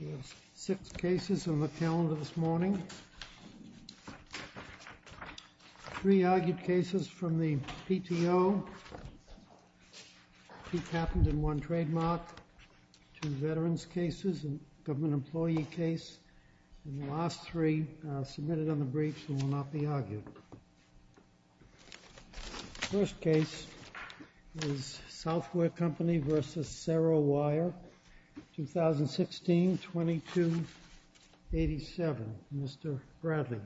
There are six cases on the calendar this morning, three argued cases from the PTO, each happened in one trademark, two veterans cases, a government employee case, and the last three submitted on the briefs and will not be argued. The first case is Southwire Company v. Cerro Wire, 2016-2287, Mr. Bradley.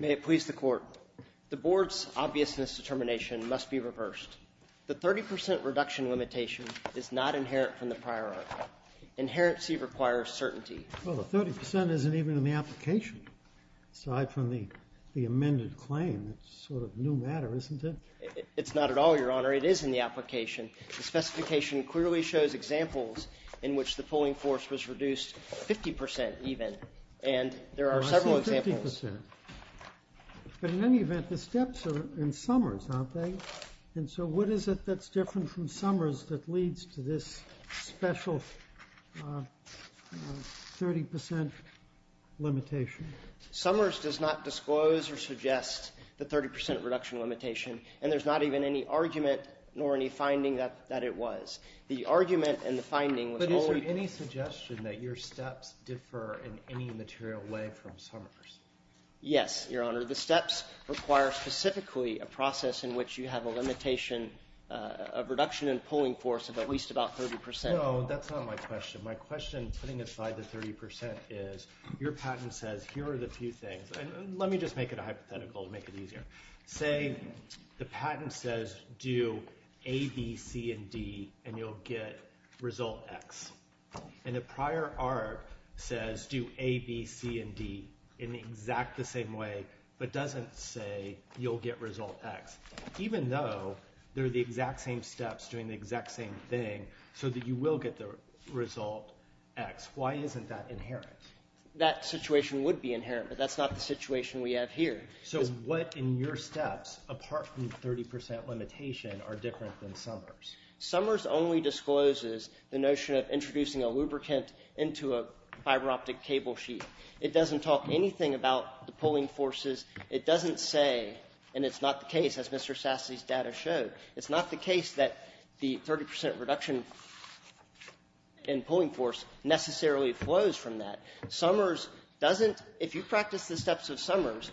May it please the Court. The Board's obviousness determination must be reversed. The 30 percent reduction limitation is not inherent from the prior article. Inherency requires certainty. Well, the 30 percent isn't even in the application, aside from the amended claim. It's sort of a new matter, isn't it? It's not at all, Your Honor. It is in the application. The specification clearly shows examples in which the pulling force was reduced 50 percent even, and there are several examples. But in any event, the steps are in Summers, aren't they? And so what is it that's different from Summers that leads to this special 30 percent limitation? Summers does not disclose or suggest the 30 percent reduction limitation, and there's not even any argument nor any finding that it was. The argument and the finding was only— But is there any suggestion that your steps differ in any material way from Summers? Yes, Your Honor. The steps require specifically a process in which you have a limitation—a reduction in pulling force of at least about 30 percent. No, that's not my question. My question, putting aside the 30 percent, is your patent says here are the few things—and let me just make it a hypothetical to make it easier. Say the patent says do A, B, C, and D, and you'll get result X. And the prior art says do A, B, C, and D in the exact the same way but doesn't say you'll get result X, even though they're the exact same steps doing the exact same thing so that you will get the result X. Why isn't that inherent? That situation would be inherent, but that's not the situation we have here. So what in your steps, apart from the 30 percent limitation, are different than Summers? Summers only discloses the notion of introducing a lubricant into a fiber optic cable sheet. It doesn't talk anything about the pulling forces. It doesn't say—and it's not the case, as Mr. Sassi's data show—it's not the case that the 30 percent reduction in pulling force necessarily flows from that. Summers doesn't—if you practice the steps of Summers,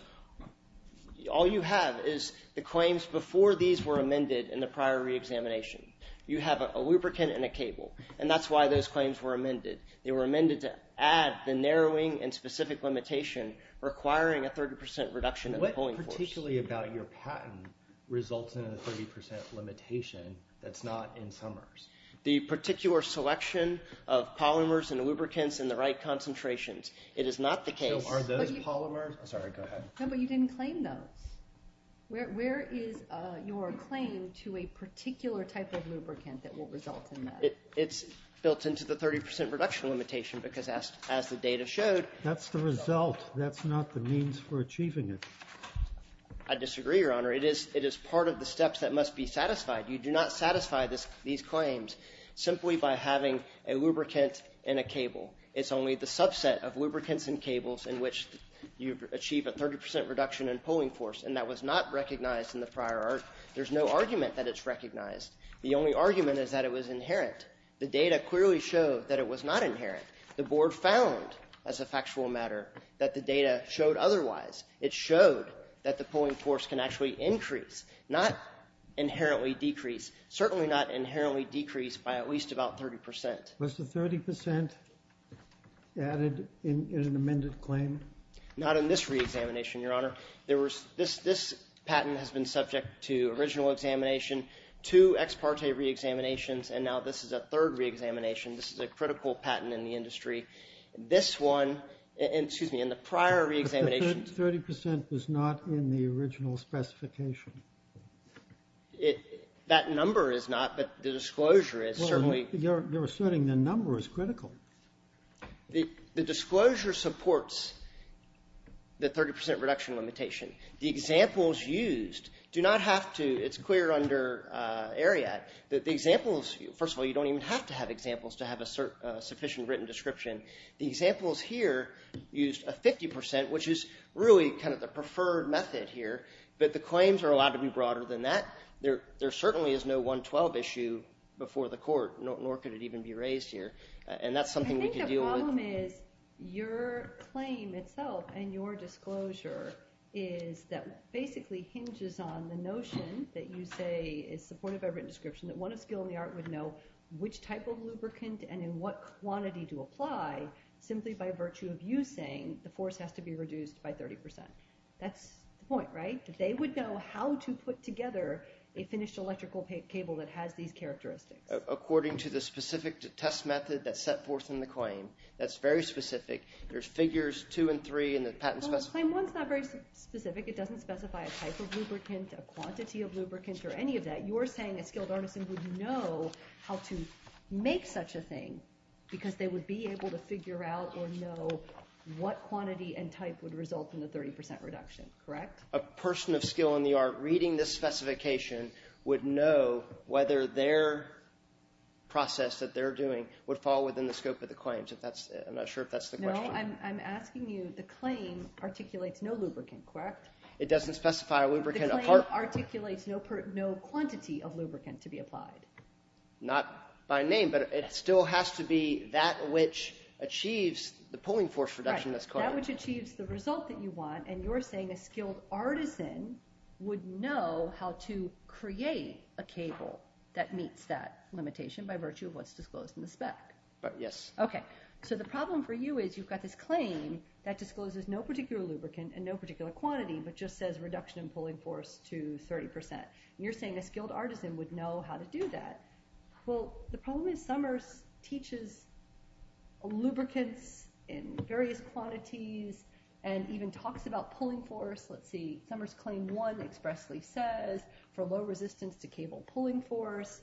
all you have is the claims before these were amended in the prior reexamination. You have a lubricant and a cable, and that's why those claims were amended. They were amended to add the narrowing and specific limitation requiring a 30 percent reduction in the pulling force. What particularly about your patent results in a 30 percent limitation that's not in Summers? The particular selection of polymers and lubricants in the right concentrations. It is not the case. So are those polymers—sorry, go ahead. No, but you didn't claim those. Where is your claim to a particular type of lubricant that will result in that? It's built into the 30 percent reduction limitation because, as the data showed— That's the result. That's not the means for achieving it. I disagree, Your Honor. It is part of the steps that must be satisfied. You do not satisfy these claims simply by having a lubricant and a cable. It's only the subset of lubricants and cables in which you achieve a 30 percent reduction in pulling force, and that was not recognized in the prior art. There's no argument that it's recognized. The only argument is that it was inherent. The data clearly showed that it was not inherent. The board found, as a factual matter, that the data showed otherwise. It showed that the pulling force can actually increase, not inherently decrease. Certainly not inherently decrease by at least about 30 percent. Was the 30 percent added in an amended claim? Not in this reexamination, Your Honor. This patent has been subject to original examination, two ex parte reexaminations, and now this is a third reexamination. This is a critical patent in the industry. This one, excuse me, in the prior reexamination... But the 30 percent was not in the original specification. That number is not, but the disclosure is certainly... You're asserting the number is critical. The disclosure supports the 30 percent reduction limitation. The examples used do not have to... It's clear under Ariat that the examples... You don't even have to have examples to have a sufficient written description. The examples here used a 50 percent, which is really kind of the preferred method here. But the claims are allowed to be broader than that. There certainly is no 112 issue before the court, nor could it even be raised here. And that's something we can deal with. I think the problem is your claim itself and your disclosure is that basically hinges on the notion that you say... That's the point of our written description, that one of skill in the art would know which type of lubricant and in what quantity to apply, simply by virtue of you saying the force has to be reduced by 30 percent. That's the point, right? That they would know how to put together a finished electrical cable that has these characteristics. According to the specific test method that's set forth in the claim, that's very specific. There's figures two and three in the patent specification. The claim one is not very specific. It doesn't specify a type of lubricant, a quantity of lubricant, or any of that. You're saying a skilled artisan would know how to make such a thing because they would be able to figure out or know what quantity and type would result in the 30 percent reduction, correct? A person of skill in the art reading this specification would know whether their process that they're doing would fall within the scope of the claims. I'm not sure if that's the question. So I'm asking you, the claim articulates no lubricant, correct? It doesn't specify a lubricant. The claim articulates no quantity of lubricant to be applied. Not by name, but it still has to be that which achieves the pulling force reduction that's called. That which achieves the result that you want, and you're saying a skilled artisan would know how to create a cable that meets that limitation by virtue of what's disclosed in the spec. Yes. Okay. So the problem for you is you've got this claim that discloses no particular lubricant and no particular quantity, but just says reduction in pulling force to 30 percent. You're saying a skilled artisan would know how to do that. Well, the problem is Summers teaches lubricants in various quantities and even talks about pulling force. Let's see. Summers Claim 1 expressly says for low resistance to cable pulling force.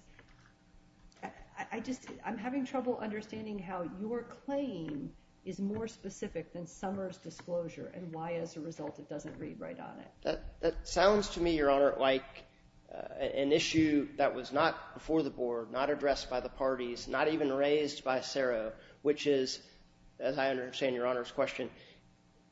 I'm having trouble understanding how your claim is more specific than Summers' disclosure and why, as a result, it doesn't read right on it. That sounds to me, Your Honor, like an issue that was not before the board, not addressed by the parties, not even raised by CERO, which is, as I understand Your Honor's question,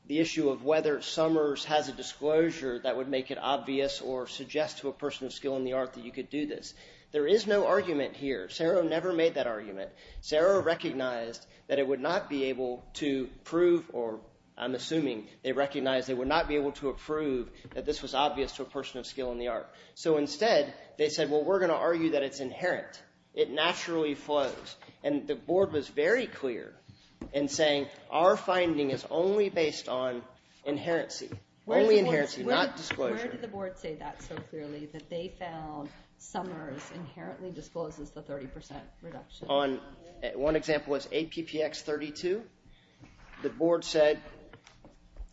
the issue of whether Summers has a disclosure that would make it obvious or suggest to a person of skill in the art that you could do this. There is no argument here. CERO never made that argument. CERO recognized that it would not be able to prove – or I'm assuming they recognized they would not be able to approve that this was obvious to a person of skill in the art. So instead, they said, well, we're going to argue that it's inherent. It naturally flows. And the board was very clear in saying our finding is only based on inherency, only inherency, not disclosure. Where did the board say that so clearly, that they found Summers inherently discloses the 30 percent reduction? On – one example is APPX 32. The board said,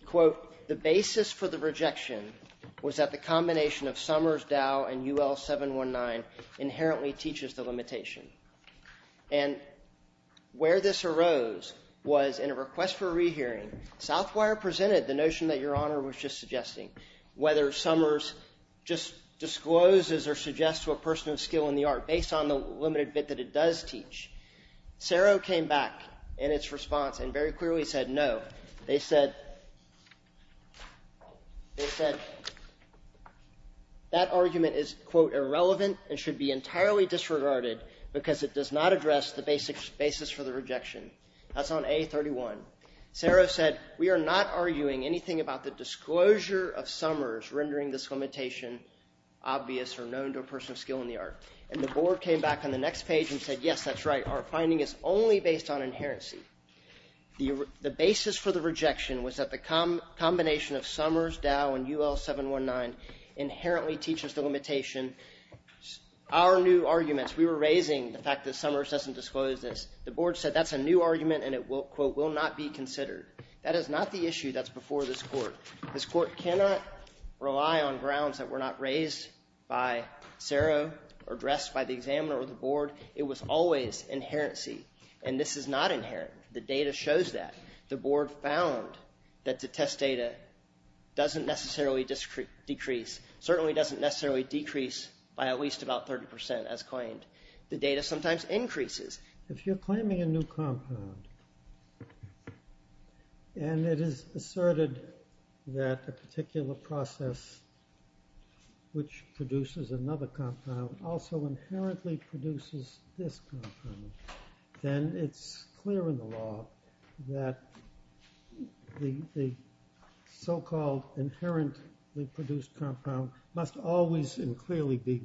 quote, the basis for the rejection was that the combination of Summers, Dow, and UL 719 inherently teaches the limitation. And where this arose was in a request for a rehearing. Southwire presented the notion that Your Honor was just suggesting, whether Summers just discloses or suggests to a person of skill in the art based on the limited bit that it does teach. CERO came back in its response and very clearly said no. They said – they said that argument is, quote, irrelevant and should be entirely disregarded because it does not address the basis for the rejection. That's on A31. CERO said we are not arguing anything about the disclosure of Summers rendering this limitation obvious or known to a person of skill in the art. And the board came back on the next page and said, yes, that's right. Our finding is only based on inherency. The basis for the rejection was that the combination of Summers, Dow, and UL 719 inherently teaches the limitation. Our new arguments – we were raising the fact that Summers doesn't disclose this. The board said that's a new argument and it, quote, will not be considered. That is not the issue that's before this court. This court cannot rely on grounds that were not raised by CERO or addressed by the examiner or the board. It was always inherency, and this is not inherent. The data shows that. The board found that the test data doesn't necessarily decrease – certainly doesn't necessarily decrease by at least about 30 percent as claimed. The data sometimes increases. If you're claiming a new compound and it is asserted that a particular process which produces another compound also inherently produces this compound, then it's clear in the law that the so-called inherently produced compound must always and clearly be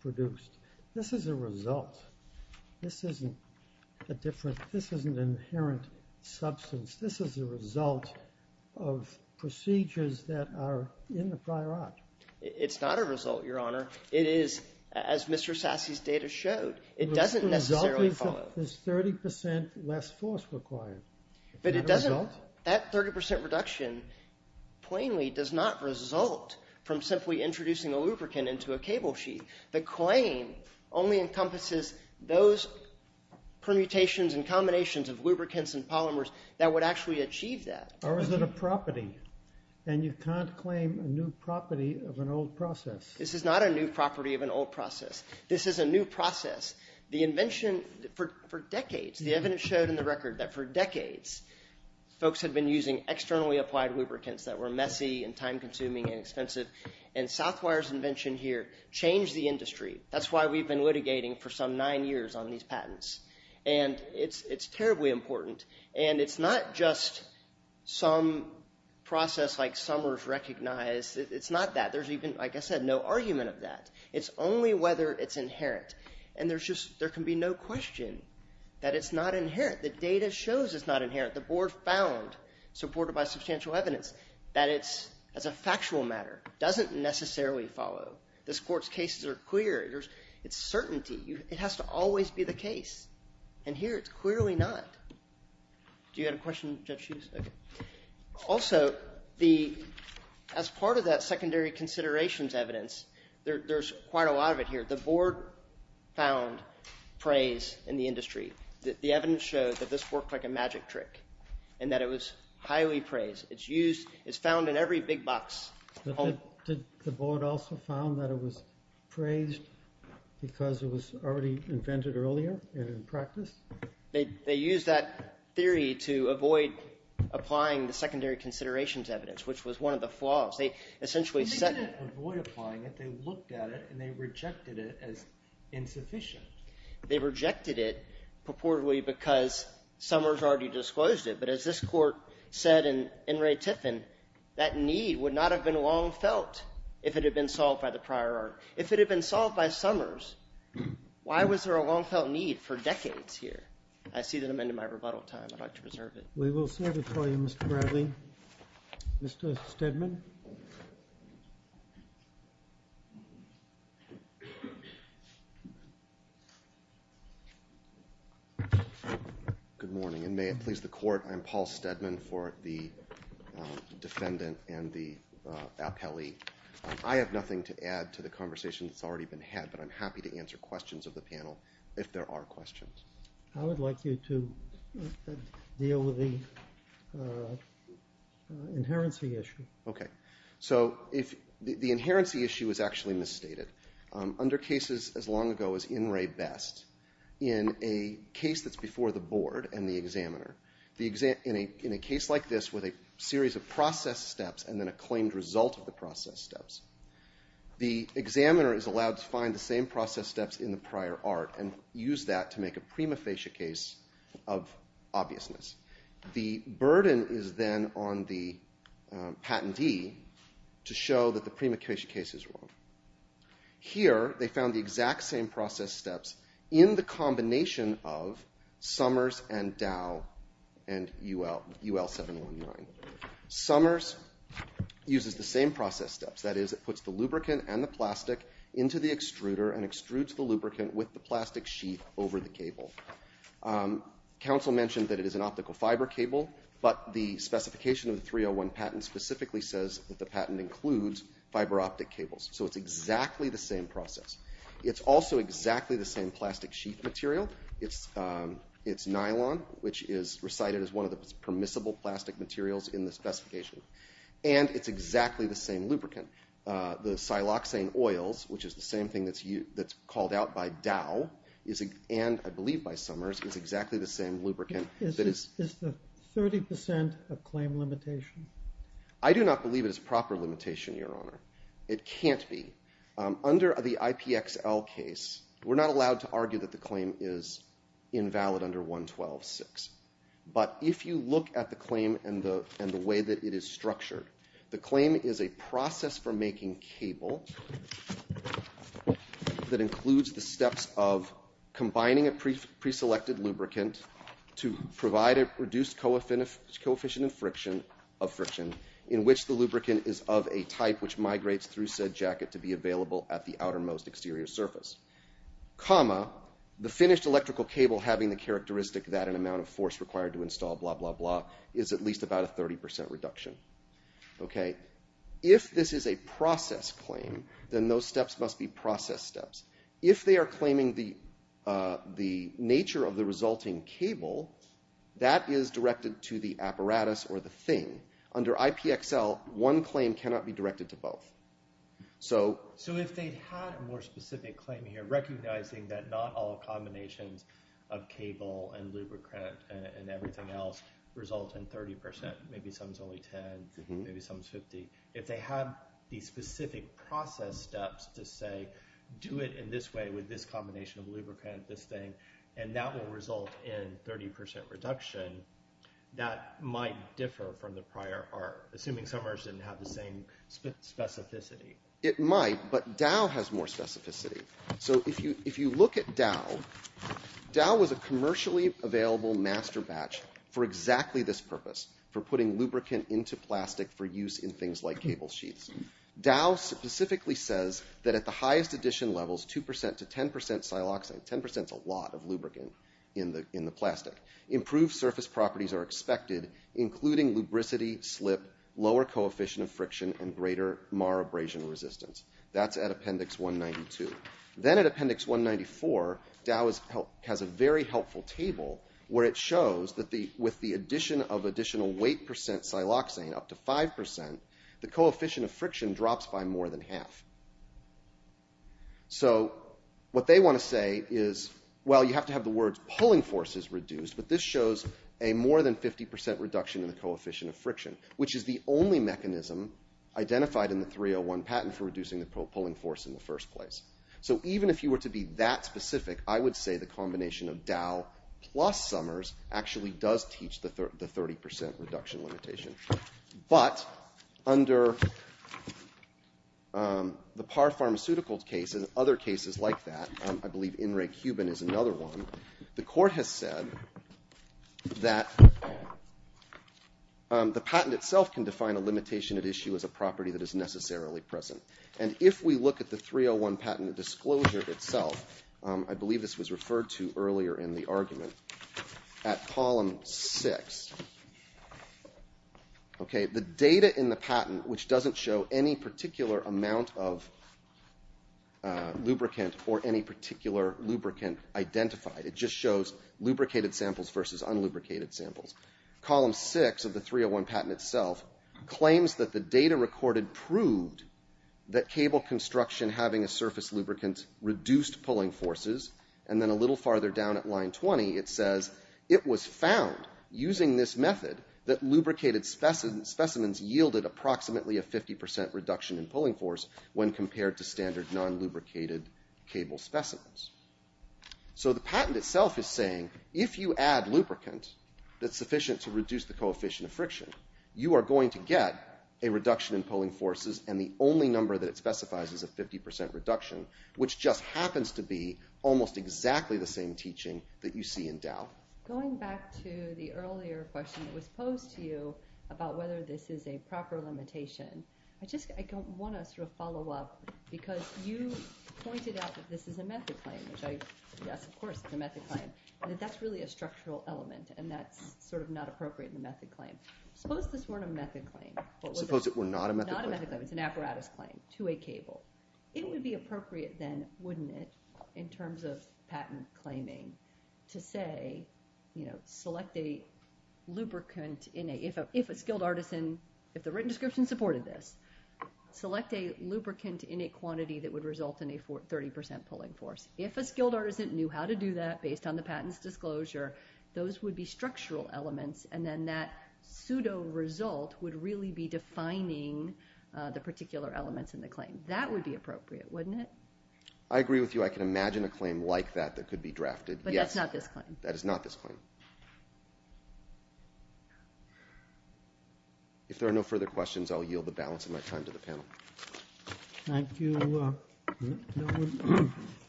produced. This is a result. This isn't a different – this isn't an inherent substance. This is a result of procedures that are in the prior art. It's not a result, Your Honor. It is – as Mr. Sasse's data showed, it doesn't necessarily follow. The result is 30 percent less force required. But it doesn't – that 30 percent reduction plainly does not result from simply introducing a lubricant into a cable sheet. The claim only encompasses those permutations and combinations of lubricants and polymers that would actually achieve that. Or is it a property, and you can't claim a new property of an old process? This is not a new property of an old process. This is a new process. The invention for decades – the evidence showed in the record that for decades folks had been using externally applied lubricants that were messy and time-consuming and expensive. And Southwire's invention here changed the industry. That's why we've been litigating for some nine years on these patents. And it's terribly important. And it's not just some process like Summers recognized. It's not that. There's even, like I said, no argument of that. It's only whether it's inherent. And there's just – there can be no question that it's not inherent. The data shows it's not inherent. The board found, supported by substantial evidence, that it's, as a factual matter, doesn't necessarily follow. This court's cases are clear. It's certainty. It has to always be the case. And here it's clearly not. Do you have a question, Judge Hughes? Okay. Also, as part of that secondary considerations evidence, there's quite a lot of it here. The board found praise in the industry. The evidence showed that this worked like a magic trick and that it was highly praised. It's used – it's found in every big box. Did the board also found that it was praised because it was already invented earlier and in practice? They used that theory to avoid applying the secondary considerations evidence, which was one of the flaws. They essentially set – They didn't avoid applying it. They looked at it, and they rejected it as insufficient. They rejected it purportedly because Summers already disclosed it. But as this Court said in Ray Tiffin, that need would not have been long felt if it had been solved by the prior art. If it had been solved by Summers, why was there a long-felt need for decades here? I see that I'm ending my rebuttal time. I'd like to reserve it. We will serve it for you, Mr. Bradley. Mr. Stedman? Good morning, and may it please the Court. I'm Paul Stedman for the defendant and the appellee. I have nothing to add to the conversation that's already been had, but I'm happy to answer questions of the panel if there are questions. I would like you to deal with the inherency issue. Okay. So the inherency issue is actually misstated. Under cases as long ago as in Ray Best, in a case that's before the board and the examiner, in a case like this with a series of process steps and then a claimed result of the process steps, the examiner is allowed to find the same process steps in the prior art and use that to make a prima facie case of obviousness. The burden is then on the patentee to show that the prima facie case is wrong. Here they found the exact same process steps in the combination of Summers and Dow and UL-719. Summers uses the same process steps. That is, it puts the lubricant and the plastic into the extruder and extrudes the lubricant with the plastic sheet over the cable. Council mentioned that it is an optical fiber cable, but the specification of the 301 patent specifically says that the patent includes fiber optic cables. So it's exactly the same process. It's also exactly the same plastic sheet material. It's nylon, which is recited as one of the permissible plastic materials in the specification. And it's exactly the same lubricant. The siloxane oils, which is the same thing that's called out by Dow and I believe by Summers, is exactly the same lubricant. Is the 30% of claim limitation? I do not believe it is proper limitation, Your Honor. It can't be. Under the IPXL case, we're not allowed to argue that the claim is invalid under 112.6. But if you look at the claim and the way that it is structured, the claim is a process for making cable that includes the steps of combining a preselected lubricant to provide a reduced coefficient of friction in which the lubricant is of a type which migrates through said jacket to be available at the outermost exterior surface. Comma, the finished electrical cable having the characteristic that an amount of force required to install blah blah blah is at least about a 30% reduction. If this is a process claim, then those steps must be process steps. If they are claiming the nature of the resulting cable, that is directed to the apparatus or the thing. Under IPXL, one claim cannot be directed to both. So if they had a more specific claim here recognizing that not all combinations of cable and lubricant and everything else result in 30%, maybe some is only 10, maybe some is 50. If they have these specific process steps to say do it in this way with this combination of lubricant, this thing, and that will result in 30% reduction, that might differ from the prior part. Assuming some didn't have the same specificity. It might, but Dow has more specificity. So if you look at Dow, Dow was a commercially available master batch for exactly this purpose, for putting lubricant into plastic for use in things like cable sheets. Dow specifically says that at the highest addition levels, 2% to 10% siloxane, 10% is a lot of lubricant in the plastic. Improved surface properties are expected, including lubricity, slip, lower coefficient of friction, and greater mar abrasion resistance. That's at appendix 192. Then at appendix 194, Dow has a very helpful table where it shows that with the addition of additional weight percent siloxane, up to 5%, the coefficient of friction drops by more than half. So what they want to say is, well, you have to have the words pulling forces reduced, but this shows a more than 50% reduction in the coefficient of friction, which is the only mechanism identified in the 301 patent for reducing the pulling force in the first place. So even if you were to be that specific, I would say the combination of Dow plus Summers actually does teach the 30% reduction limitation. But under the Parr Pharmaceutical case and other cases like that, I believe In Re Cuban is another one, the court has said that the patent itself can define a limitation at issue as a property that is necessarily present. And if we look at the 301 patent disclosure itself, I believe this was referred to earlier in the argument, at column six. The data in the patent, which doesn't show any particular amount of lubricant or any particular lubricant identified, it just shows lubricated samples versus unlubricated samples. Column six of the 301 patent itself claims that the data recorded proved that cable construction having a surface lubricant reduced pulling forces. And then a little farther down at line 20, it says, it was found using this method that lubricated specimens yielded approximately a 50% reduction in pulling force when compared to standard non-lubricated cable specimens. So the patent itself is saying, if you add lubricant that's sufficient to reduce the coefficient of friction, you are going to get a reduction in pulling forces and the only number that it specifies is a 50% reduction, which just happens to be almost exactly the same teaching that you see in Dow. Going back to the earlier question that was posed to you about whether this is a proper limitation, I just want to sort of follow up because you pointed out that this is a method claim. Yes, of course, it's a method claim. But that's really a structural element and that's sort of not appropriate in the method claim. Suppose this weren't a method claim. Suppose it were not a method claim? Not a method claim. It's an apparatus claim to a cable. It would be appropriate then, wouldn't it, in terms of patent claiming, to say, you know, select a lubricant in a, if a skilled artisan, if the written description supported this, select a lubricant in a quantity that would result in a 30% pulling force. If a skilled artisan knew how to do that based on the patent's disclosure, those would be structural elements and then that pseudo result would really be defining the particular elements in the claim. That would be appropriate, wouldn't it? I agree with you. I can imagine a claim like that that could be drafted. But that's not this claim. That is not this claim. If there are no further questions, I'll yield the balance of my time to the panel. Thank you.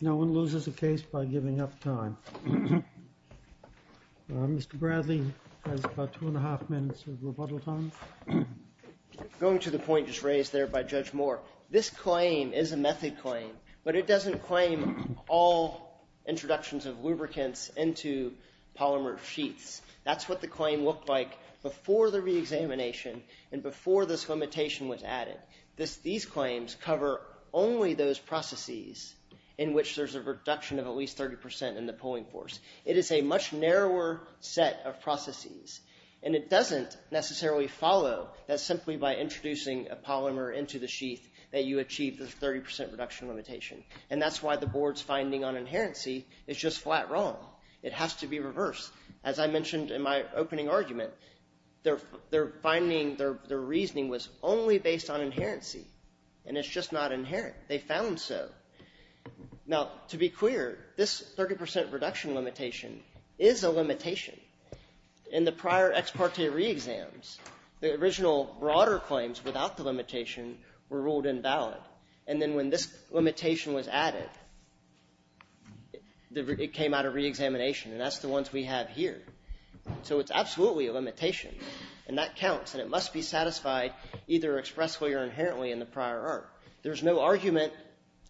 No one loses a case by giving up time. Mr. Bradley has about two and a half minutes of rebuttal time. Going to the point just raised there by Judge Moore, this claim is a method claim, but it doesn't claim all introductions of lubricants into polymer sheets. That's what the claim looked like before the reexamination and before this limitation was added. These claims cover only those processes in which there's a reduction of at least 30% in the pulling force. It is a much narrower set of processes, and it doesn't necessarily follow that simply by introducing a polymer into the sheath that you achieve the 30% reduction limitation. And that's why the board's finding on inherency is just flat wrong. It has to be reversed. As I mentioned in my opening argument, their finding, their reasoning was only based on inherency, and it's just not inherent. They found so. Now, to be clear, this 30% reduction limitation is a limitation. In the prior ex parte reexams, the original broader claims without the limitation were ruled invalid, and then when this limitation was added, it came out of reexamination, and that's the ones we have here. So it's absolutely a limitation, and that counts, and it must be satisfied either expressly or inherently in the prior art. There's no argument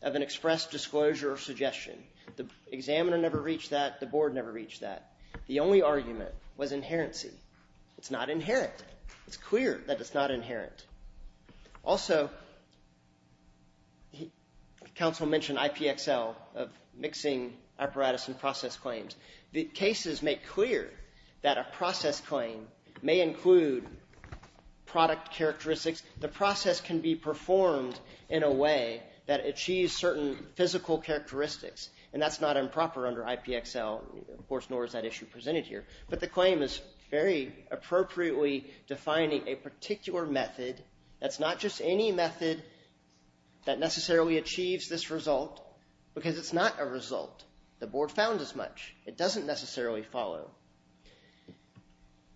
of an express disclosure or suggestion. The examiner never reached that. The board never reached that. The only argument was inherency. It's not inherent. It's clear that it's not inherent. Also, counsel mentioned IPXL of mixing apparatus and process claims. The cases make clear that a process claim may include product characteristics. The process can be performed in a way that achieves certain physical characteristics, and that's not improper under IPXL, of course, nor is that issue presented here, but the claim is very appropriately defining a particular method. That's not just any method that necessarily achieves this result because it's not a result. The board found as much. It doesn't necessarily follow.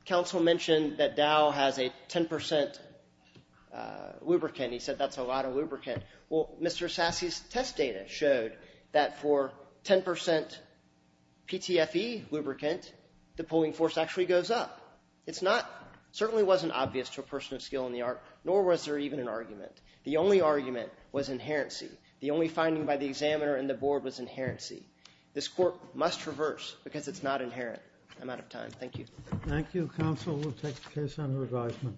Counsel mentioned that Dow has a 10% lubricant. He said that's a lot of lubricant. Well, Mr. Sasse's test data showed that for 10% PTFE lubricant, the pulling force actually goes up. It certainly wasn't obvious to a person of skill in the art, nor was there even an argument. The only argument was inherency. The only finding by the examiner and the board was inherency. This court must reverse because it's not inherent. I'm out of time. Thank you. Thank you, counsel. We'll take the case under advisement.